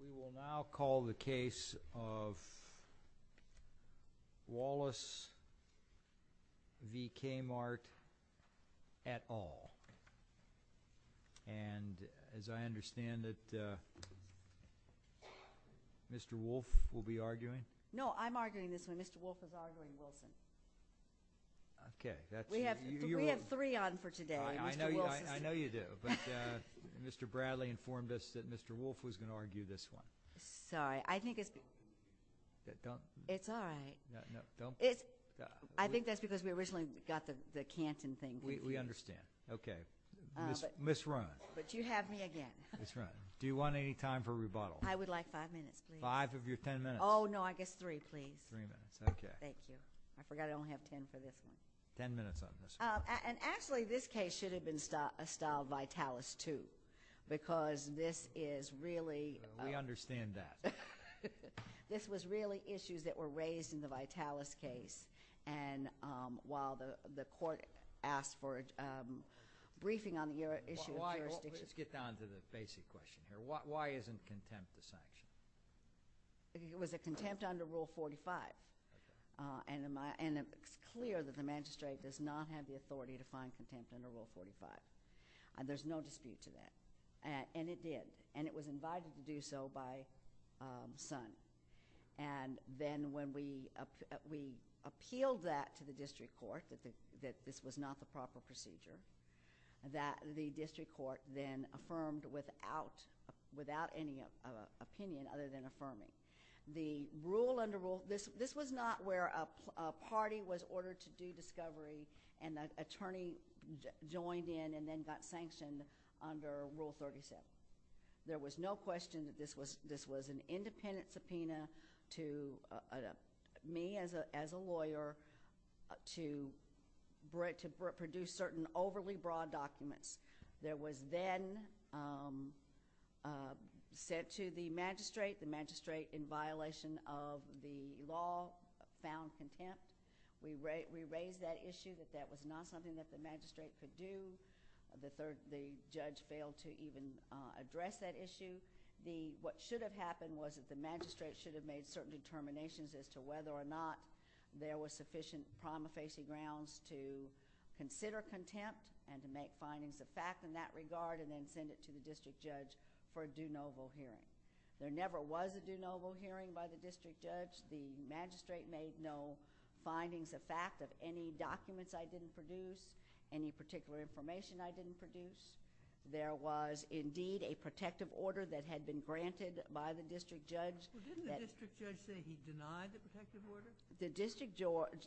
We will now call the case of Wallace v. KMart et al. And as I understand it, Mr. Wolfe will be arguing? No, I'm arguing this one. Mr. Wolfe is arguing this one. Okay, that's... We have three on for today. I know you do. But Mr. Bradley informed us that Mr. Wolfe was going to argue this one. Sorry, I think it's... Don't... It's all right. No, don't... I think that's because we originally got the Canton thing. We understand. Okay. Ms. Rahn. But you have me again. Ms. Rahn, do you want any time for rebuttal? I would like five minutes. Five of your ten minutes. Oh, no, I guess three, please. Three minutes, okay. Thank you. I forgot I only have ten for this one. Ten minutes on this one. And actually, this case should have been styled Vitalis II because this is really... We understand that. This was really issues that were raised in the Vitalis case and while the court asked for a briefing on the issue of jurisdictions... Let's get down to the basic question here. Why isn't contempt the sanction? It was a contempt under Rule 45. And it's clear that the magistrate does not have the authority to find contempt under Rule 45. There's no dispute to that. And it did. And it was invited to do so by the son. And then when we appealed that to the district court, that this was not the proper procedure, that the district court then affirmed without any opinion other than affirming. This was not where a party was ordered to do discovery and an attorney joined in and then got sanctioned under Rule 37. There was no question that this was an independent subpoena to me as a lawyer to produce certain overly broad documents. There was then sent to the magistrate. The magistrate, in violation of the law, found contempt. We raised that issue that that was not something that the magistrate could do. The judge failed to even address that issue. What should have happened was that the magistrate should have made certain determinations as to whether or not there were sufficient prima facie grounds to consider contempt and to make findings of fact in that regard and then send it to the district judge for a do-no-vo hearing. There never was a do-no-vo hearing by the district judge. The magistrate made no findings of fact of any documents I didn't produce, any particular information I didn't produce. There was indeed a protective order that had been granted by the district judge. Didn't the district judge say he denied the protective order?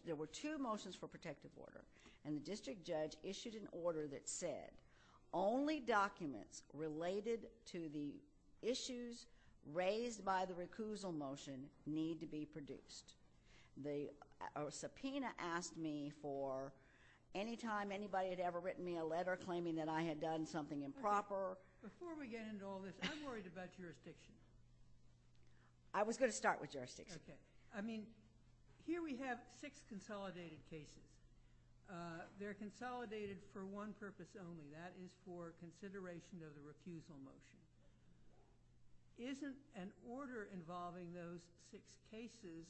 There were two motions for protective order, and the district judge issued an order that said only documents related to the issues raised by the recusal motion need to be produced. The subpoena asked me for any time anybody had ever written me a letter claiming that I had done something improper. Before we get into all this, I'm worried about jurisdiction. I was going to start with jurisdiction. Okay. I mean, here we have six consolidated cases. They're consolidated for one purpose only. That is for consideration of the refusal motion. Isn't an order involving those six cases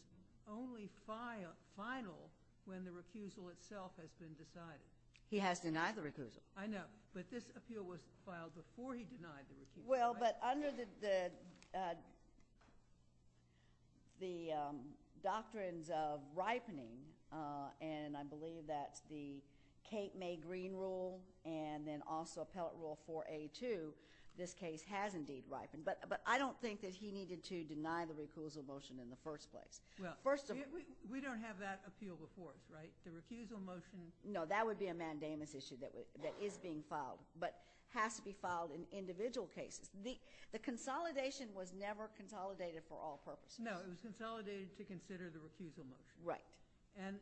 only final when the refusal itself has been decided? He has denied the refusal. I know, but this appeal was filed before he denied the refusal. Well, but under the doctrines of ripening, and I believe that the Kate May Green Rule and then also Appellate Rule 4A2, this case has indeed ripened. But I don't think that he needed to deny the refusal motion in the first place. Well, we don't have that appeal before, right? The refusal motion— No, that would be a mandamus issue that is being filed, but has to be filed in individual cases. The consolidation was never consolidated for all purposes. No, it was consolidated to consider the refusal motion. Right. And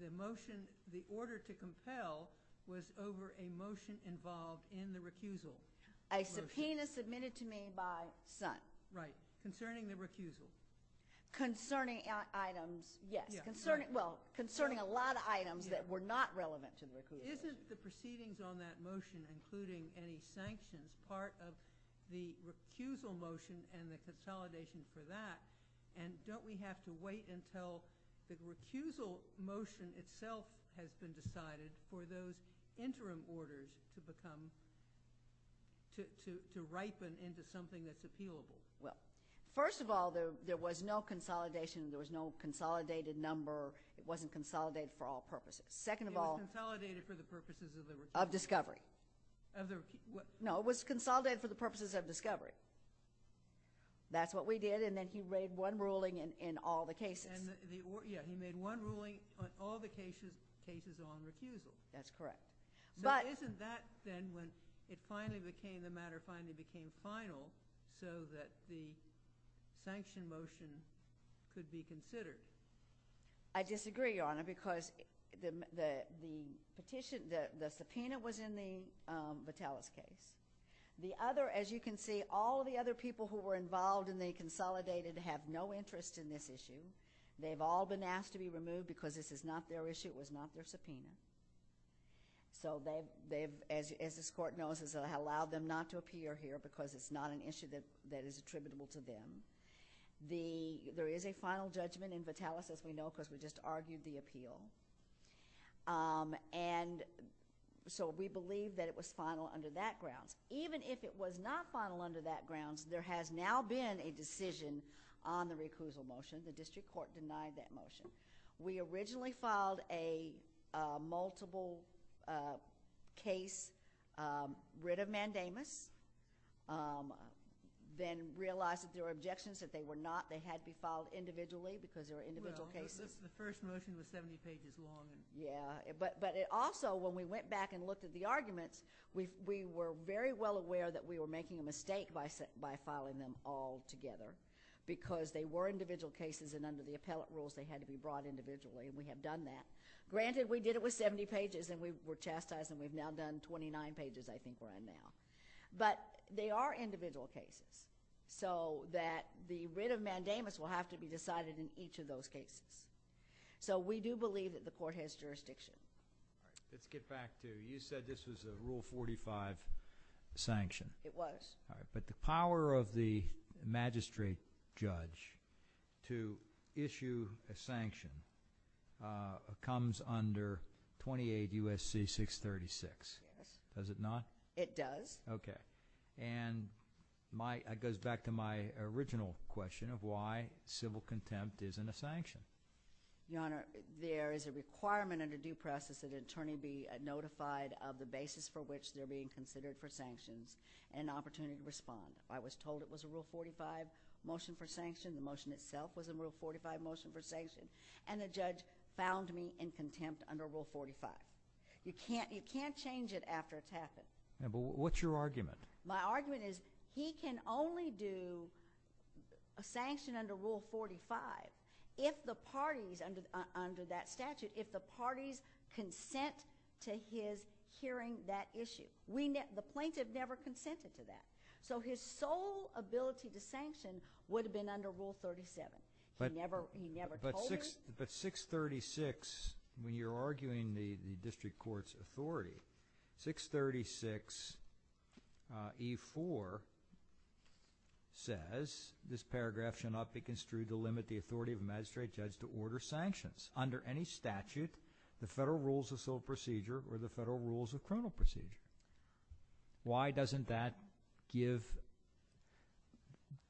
the motion, the order to compel was over a motion involved in the refusal motion. A subpoena submitted to me by Sun. Right. Concerning the refusal. Concerning items, yes. Well, concerning a lot of items that were not relevant to the refusal. Isn't the proceedings on that motion, including any sanctions, part of the refusal motion and the consolidation for that? And don't we have to wait until the refusal motion itself has been decided for those interim orders to become—to ripen into something that's appealable? Well, first of all, there was no consolidation. There was no consolidated number. It wasn't consolidated for all purposes. Second of all— It was consolidated for the purposes of the— Of discovery. Of the— No, it was consolidated for the purposes of discovery. That's what we did, and then he made one ruling in all the cases. Yeah, he made one ruling on all the cases on refusal. That's correct. But— Now, isn't that then when it finally became—the matter finally became final so that the sanction motion could be considered? I disagree, Your Honor, because the petition—the subpoena was in the Vitalis case. The other—as you can see, all the other people who were involved in the consolidated have no interest in this issue. They've all been asked to be removed because this is not their issue. It was not their subpoena. So they've—as this Court knows, has allowed them not to appear here because it's not an issue that is attributable to them. The—there is a final judgment in Vitalis, as we know, because we just argued the appeal. And so we believe that it was final under that grounds. Even if it was not final under that grounds, there has now been a decision on the recusal motion. The district court denied that motion. We originally filed a multiple case writ of mandamus, then realized that there were objections, that they were not— they had to be filed individually because there were individual cases. Well, the first motion was 70 pages long. Yeah. But also, when we went back and looked at the arguments, we were very well aware that we were making a mistake by filing them all together because they were individual cases, and under the appellate rules, they had to be brought individually, and we had done that. Granted, we did it with 70 pages, and we were chastised, and we've now done 29 pages I think we're in now. But they are individual cases, so that the writ of mandamus will have to be decided in each of those cases. So we do believe that the court has jurisdiction. Let's get back to—you said this was a Rule 45 sanction. It was. But the power of the magistrate judge to issue a sanction comes under 28 U.S.C. 636. Yes. Does it not? It does. Okay. And that goes back to my original question of why civil contempt isn't a sanction. Your Honor, there is a requirement under due process that an attorney be notified of the basis for which they're being considered for sanctions and an opportunity to respond. I was told it was a Rule 45 motion for sanction. The motion itself was a Rule 45 motion for sanction, and the judge found me in contempt under Rule 45. You can't change it after it's happened. But what's your argument? My argument is he can only do a sanction under Rule 45 if the parties under that statute, if the parties consent to his hearing that issue. The plaintiff never consented to that. So his sole ability to sanction would have been under Rule 37. He never told me. But 636, when you're arguing the district court's authority, 636E4 says, This paragraph shall not be construed to limit the authority of a magistrate judge to order sanctions under any statute, the Federal Rules of Civil Procedure, or the Federal Rules of Criminal Procedure. Why doesn't that give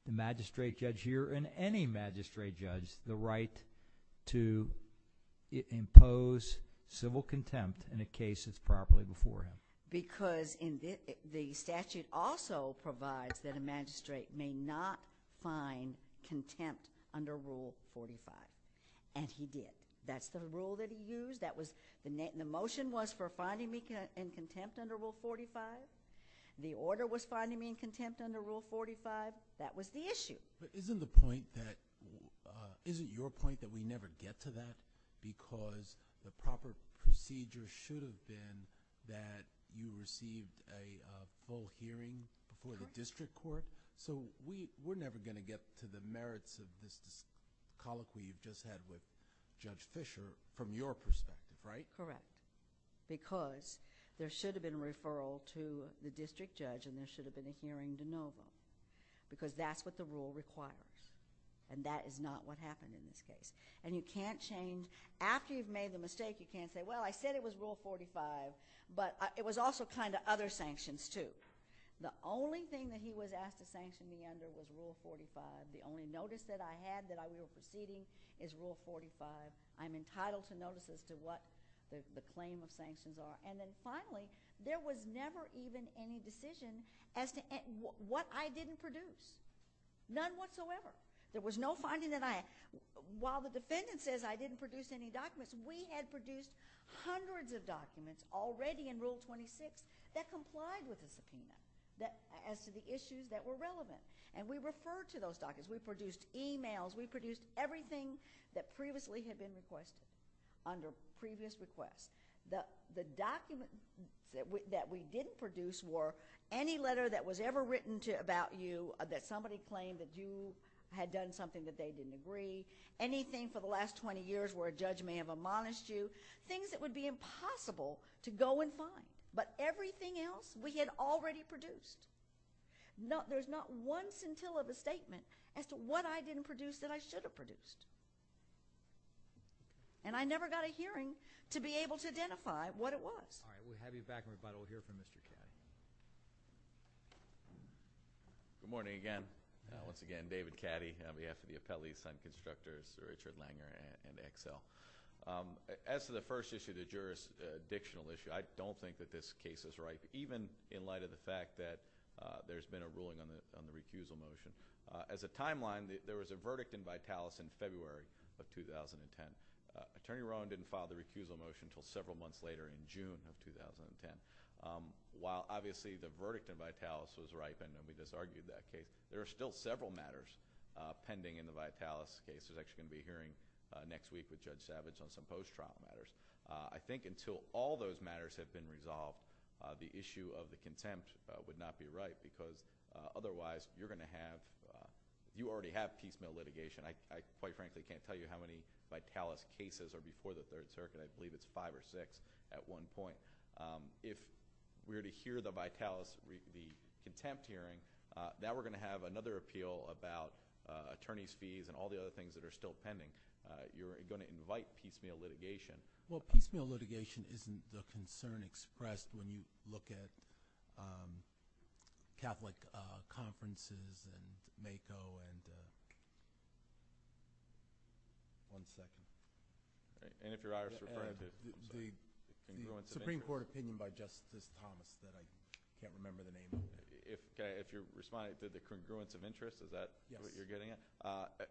the magistrate judge here and any magistrate judge the right to impose civil contempt in a case that's properly before him? Because the statute also provides that a magistrate may not find contempt under Rule 45, and he did. That's the rule that he used. The motion was for finding me in contempt under Rule 45. The order was finding me in contempt under Rule 45. That was the issue. But isn't your point that we never get to that because the proper procedure should have been that you received a full hearing before the district court? So we're never going to get to the merits of the colloquy you just had with Judge Fischer from your perspective, right? Correct. Because there should have been a referral to the district judge and there should have been a hearing to know that because that's what the rule required, and that is not what happened in this case. And you can't change. After you've made the mistake, you can't say, Well, I said it was Rule 45, but it was also kind of other sanctions, too. The only thing that he was asked to sanction me under was Rule 45. The only notice that I had that I was exceeding is Rule 45. I'm entitled to notice as to what the claim of sanctions are. And then finally, there was never even any decision as to what I didn't produce. None whatsoever. There was no finding that I had. While the defendant says I didn't produce any documents, we had produced hundreds of documents already in Rule 26 that complied with his opinion as to the issues that were relevant. And we referred to those documents. We produced emails. We produced everything that previously had been requested under previous requests. The documents that we didn't produce were any letter that was ever written about you that somebody claimed that you had done something that they didn't agree, anything for the last 20 years where a judge may have admonished you, things that would be impossible to go and find. But everything else we had already produced. There's not one scintilla of a statement as to what I didn't produce that I should have produced. And I never got a hearing to be able to identify what it was. All right. We'll have you back in a minute. We'll hear from Mr. Caddy. Good morning again. Once again, David Caddy on behalf of the Appellee Assigned Constructors, Richard Langer and Excel. As to the first issue, the jurisdictional issue, I don't think that this case is right, even in light of the fact that there's been a ruling on the refusal motion. As a timeline, there was a verdict in Vitalis in February of 2010. Attorney Rowan didn't file the refusal motion until several months later in June of 2010. While, obviously, the verdict in Vitalis was right, and we just argued that case, there are still several matters pending in the Vitalis case. This is actually going to be a hearing next week with Judge Savage on some post-trial matters. I think until all those matters have been resolved, the issue of the contempt would not be right, because otherwise you're going to have – you already have piecemeal litigation. I quite frankly can't tell you how many Vitalis cases are before the Third Circuit. I believe it's five or six at one point. If we were to hear the Vitalis contempt hearing, now we're going to have another appeal about attorney's fees and all the other things that are still pending. You're going to invite piecemeal litigation. Well, piecemeal litigation isn't the concern expressed when you look at Catholic conferences and MAKO and – one second. And if you're Irish or French. The Supreme Court opinion by Justice Thomas, but I can't remember the name. If you're responding to the congruence of interest, is that what you're getting at?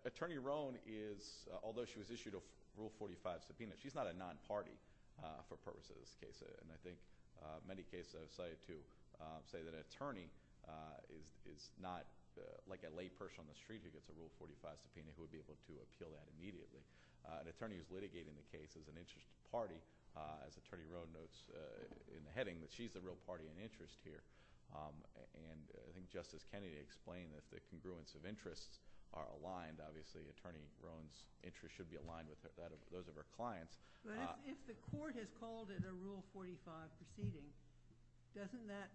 Attorney Rohn is – although she was issued a Rule 45 subpoena, she's not a non-party for purposes of this case. And I think many cases I've cited to say that an attorney is not like a lay person on the street who gets a Rule 45 subpoena who would be able to appeal that immediately. An attorney is litigating the case as an interest party. As Attorney Rohn notes in the heading that she's the real party in interest here. And I think Justice Kennedy explained that the congruence of interests are aligned. Obviously, Attorney Rohn's interests should be aligned with those of her clients. But if the court has called it a Rule 45 subpoena, doesn't that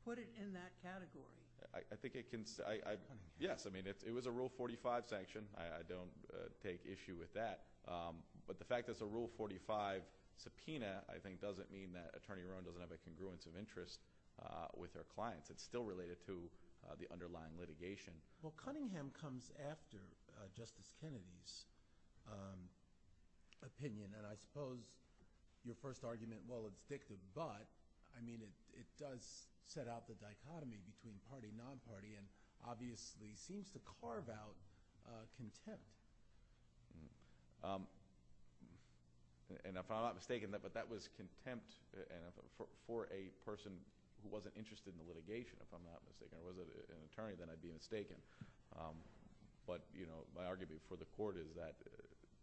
put it in that category? I think it can – yes. I mean, it was a Rule 45 sanction. I don't take issue with that. But the fact that it's a Rule 45 subpoena I think doesn't mean that Attorney Rohn doesn't have a congruence of interest with her clients. It's still related to the underlying litigation. Well, Cunningham comes after Justice Kennedy's opinion. And I suppose your first argument, well, it's fictive. But, I mean, it does set out the dichotomy between party and non-party and obviously seems to carve out contempt. And if I'm not mistaken, but that was contempt for a person who wasn't interested in the litigation, if I'm not mistaken. If it was an attorney, then I'd be mistaken. But my argument for the court is that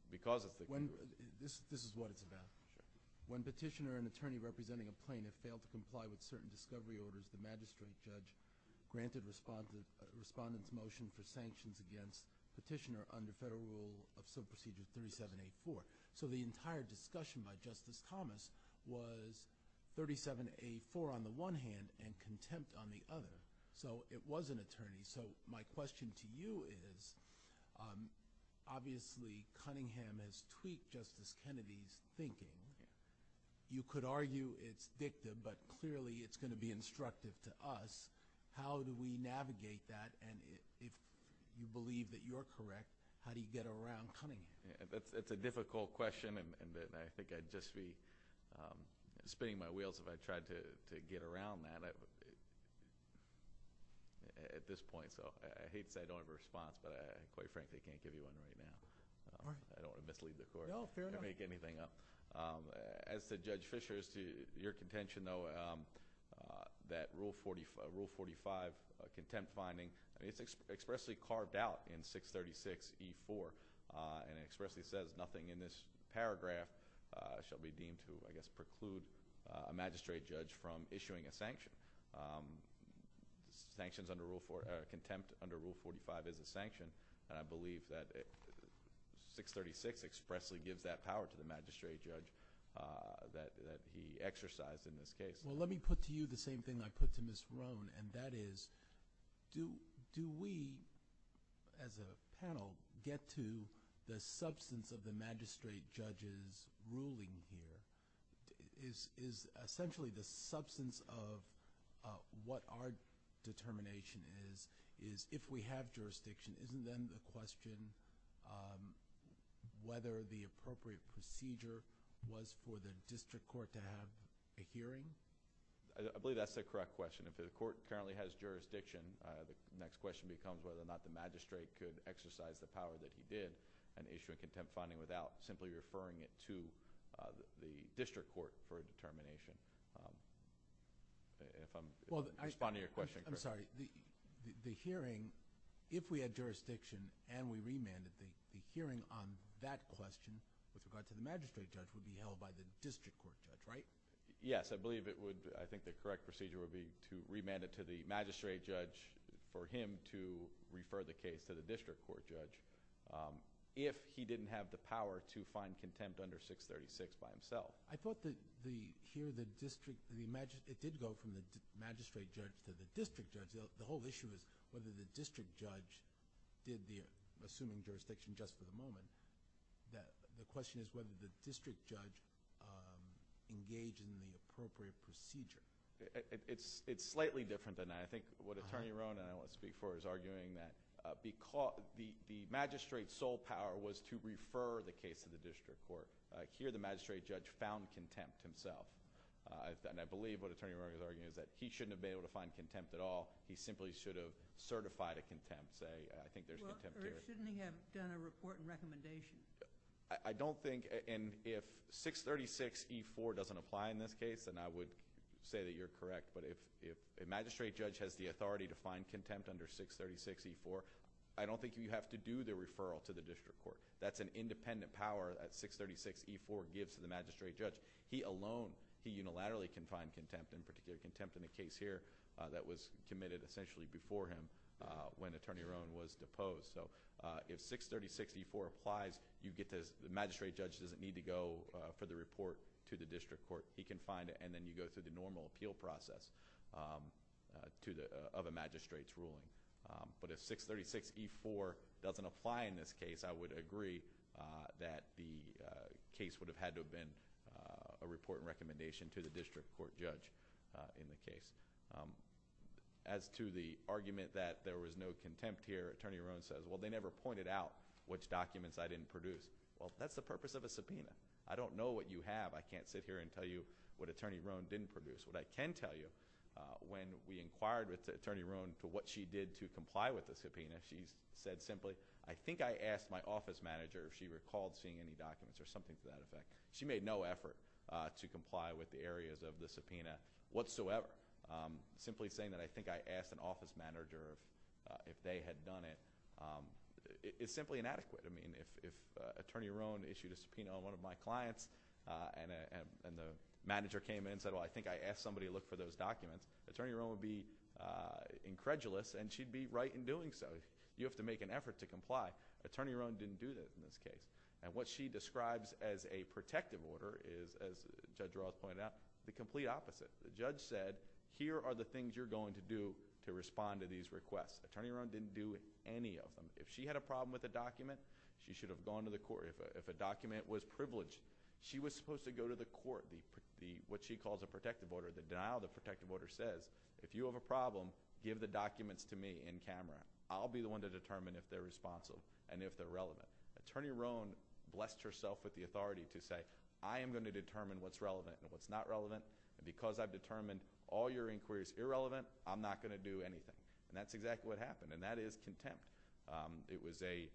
because of the – This is what it's about. When petitioner and attorney representing a plaintiff fail to comply with certain discovery orders, the magistrate judge granted the respondent's motion for sanctions against petitioner under Federal Rule of Civil Procedure 37A4. So the entire discussion by Justice Thomas was 37A4 on the one hand and contempt on the other. So it was an attorney. So my question to you is obviously Cunningham has tweaked Justice Kennedy's thinking. You could argue it's fictive, but clearly it's going to be instructive to us. How do we navigate that? And if you believe that you're correct, how do you get around Cunningham? That's a difficult question and I think I'd just be spinning my wheels if I tried to get around that at this point. So I hate to say I don't have a response, but quite frankly, I can't give you one right now. I don't want to mislead the court. No, fair enough. I can't make anything up. As to Judge Fischer, as to your contention, though, that Rule 45 contempt finding, it's expressly carved out in 636E4 and it expressly says nothing in this paragraph shall be deemed to, I guess, preclude a magistrate judge from issuing a sanction. Sanctions under Rule – contempt under Rule 45 is a sanction, and I believe that 636 expressly gives that power to the magistrate judge that he exercised in this case. Well, let me put to you the same thing I put to Ms. Sloan, and that is do we, as a panel, get to the substance of the magistrate judge's ruling here? Is essentially the substance of what our determination is, is if we have jurisdiction, isn't then the question whether the appropriate procedure was for the district court to have a hearing? I believe that's the correct question. If the court currently has jurisdiction, the next question becomes whether or not the magistrate could exercise the power that he did without simply referring it to the district court for determination. If I'm responding to your question correctly. I'm sorry. The hearing, if we had jurisdiction and we remanded the hearing on that question with regard to the magistrate judge would be held by the district court, right? Yes, I believe it would. I think the correct procedure would be to remand it to the magistrate judge for him to refer the case to the district court judge if he didn't have the power to find contempt under 636 by himself. I thought the hearing, it did go from the magistrate judge to the district judge. The whole issue is whether the district judge did the assuming jurisdiction just for the moment. The question is whether the district judge engaged in the appropriate procedure. It's slightly different than that. I think what Attorney Rona and I want to speak for is arguing that the magistrate's sole power was to refer the case to the district court. Here the magistrate judge found contempt himself. I believe what Attorney Rona is arguing is that he shouldn't have been able to find contempt at all. He simply should have certified a contempt say. I think there's contempt there. Or he shouldn't have done a report and recommendation. I don't think and if 636E4 doesn't apply in this case, then I would say that you're correct. But if a magistrate judge has the authority to find contempt under 636E4, I don't think you have to do the referral to the district court. That's an independent power that 636E4 gives to the magistrate judge. He alone, he unilaterally can find contempt and particularly contempt in the case here that was committed essentially before him when Attorney Rona was deposed. If 636E4 applies, the magistrate judge doesn't need to go for the report to the district court. He can find it and then you go through the normal appeal process of a magistrate's ruling. But if 636E4 doesn't apply in this case, I would agree that the case would have had to have been a report and recommendation to the district court judge in the case. As to the argument that there was no contempt here, Attorney Rona says, well, they never pointed out which documents I didn't produce. Well, that's the purpose of a subpoena. I don't know what you have. I can't sit here and tell you what Attorney Rona didn't produce. What I can tell you, when we inquired with Attorney Rona for what she did to comply with the subpoena, she said simply, I think I asked my office manager if she recalled seeing any documents or something to that effect. She made no effort to comply with the areas of the subpoena whatsoever. Simply saying that I think I asked an office manager if they had done it is simply inadequate. I mean, if Attorney Rona issued a subpoena on one of my clients and the manager came in and said, well, I think I asked somebody to look for those documents, Attorney Rona would be incredulous and she'd be right in doing so. You have to make an effort to comply. Attorney Rona didn't do that in this case. And what she describes as a protective order is, as Judge Roth pointed out, the complete opposite. The judge said, here are the things you're going to do to respond to these requests. Attorney Rona didn't do any of them. If she had a problem with a document, she should have gone to the court. If a document was privileged, she was supposed to go to the court. What she called the protective order, the denial of the protective order says, if you have a problem, give the documents to me in camera. I'll be the one to determine if they're responsive and if they're relevant. Attorney Rona blessed herself with the authority to say, I am going to determine what's relevant and what's not relevant. And because I've determined all your inquiries irrelevant, I'm not going to do anything. And that's exactly what happened, and that is contempt. It was a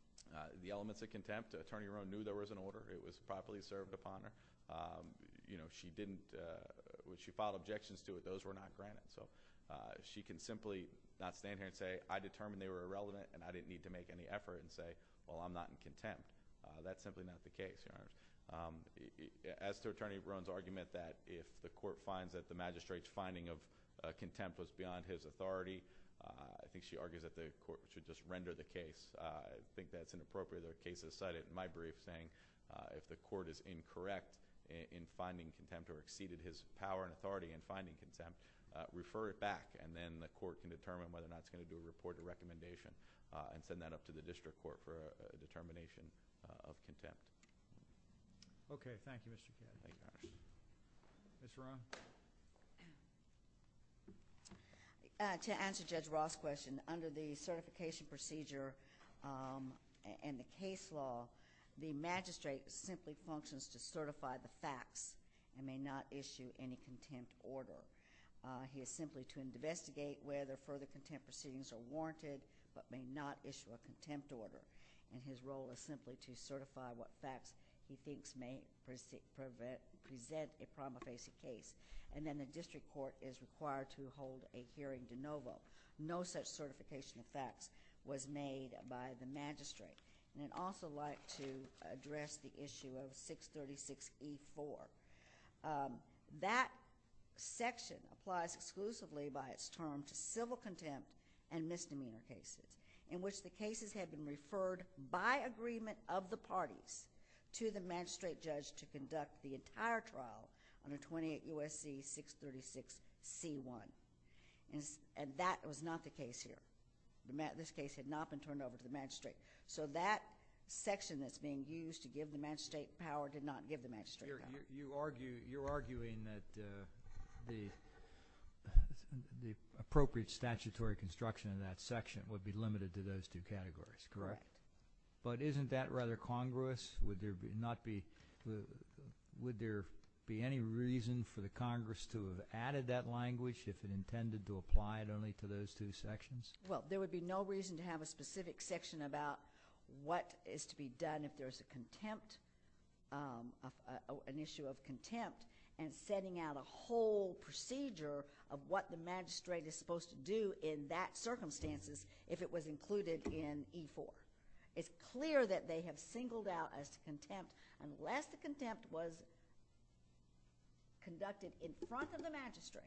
– the elements of contempt, Attorney Rona knew there was an order. It was properly served upon her. She didn't – when she filed objections to it, those were not granted. So she can simply not stand here and say, I determined they were irrelevant, and I didn't need to make any effort and say, well, I'm not in contempt. That's simply not the case, Your Honor. As to Attorney Rona's argument that if the court finds that the magistrate's finding of contempt was beyond his authority, I think she argues that the court should just render the case. I think that's inappropriate. The case is cited in my brief saying if the court is incorrect in finding contempt or exceeded his power and authority in finding contempt, refer it back, and then the court can determine whether or not it's going to do the court a recommendation and send that up to the district court for a determination of contempt. Okay. Thank you, Mr. Chairman. Ms. Rahn? To answer Judge Ross' question, under the certification procedure and the case law, the magistrate simply functions to certify the facts and may not issue any contempt order. He is simply to investigate whether further contempt proceedings are warranted but may not issue a contempt order. And his role is simply to certify what facts he thinks may present a problem facing case. And then the district court is required to hold a hearing de novo. No such certification of facts was made by the magistrate. And I'd also like to address the issue of 636E4. That section applies exclusively by its term to civil contempt and misdemeanor cases in which the cases have been referred by agreement of the parties to the magistrate judge to conduct the entire trial under 28 U.S.C. 636C1. And that was not the case here. This case had not been turned over to the magistrate. So that section that's being used to give the magistrate power did not give the magistrate power. You're arguing that the appropriate statutory construction of that section would be limited to those two categories, correct? Correct. But isn't that rather congruous? Would there be any reason for the Congress to have added that language if it intended to apply it only to those two sections? Well, there would be no reason to have a specific section about what is to be done if there's an issue of contempt and setting out a whole procedure of what the magistrate is supposed to do in that circumstances if it was included in E4. It's clear that they have singled out as contempt. Unless the contempt was conducted in front of the magistrate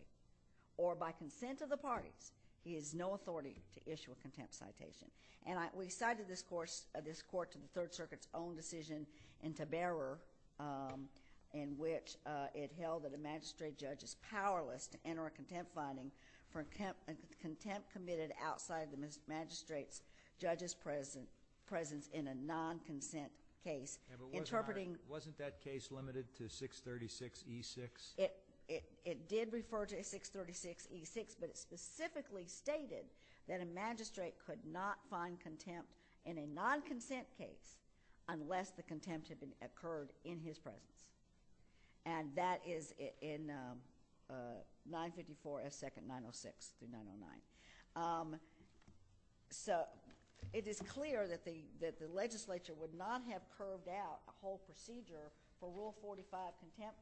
or by consent of the parties, he has no authority to issue a contempt citation. And we cited this Court to the Third Circuit's own decision in Taberra in which it held that the magistrate judge is powerless to enter a contempt finding for contempt committed outside the magistrate's judge's presence in a non-consent case. Wasn't that case limited to 636E6? It did refer to 636E6, but it specifically stated that a magistrate could not find contempt in a non-consent case unless the contempt had occurred in his presence. And that is in 954S2906 through 909. So it is clear that the legislature would not have curved out a whole procedure for Rule 45 contempt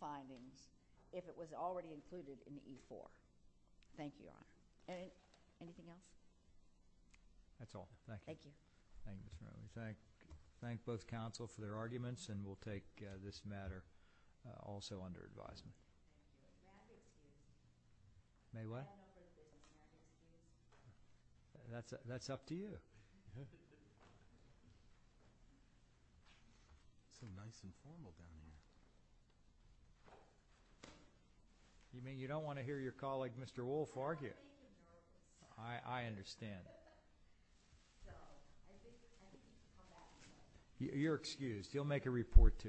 findings if it was already included in the E4. Thank you, Your Honor. Anything else? That's all. Thank you. Thank both counsel for their arguments, and we'll take this matter also under advisement. May what? That's up to you. Thank you. That's a nice informal down there. You mean you don't want to hear your colleague Mr. Wolf argue? I understand. You're excused. He'll make a report to you.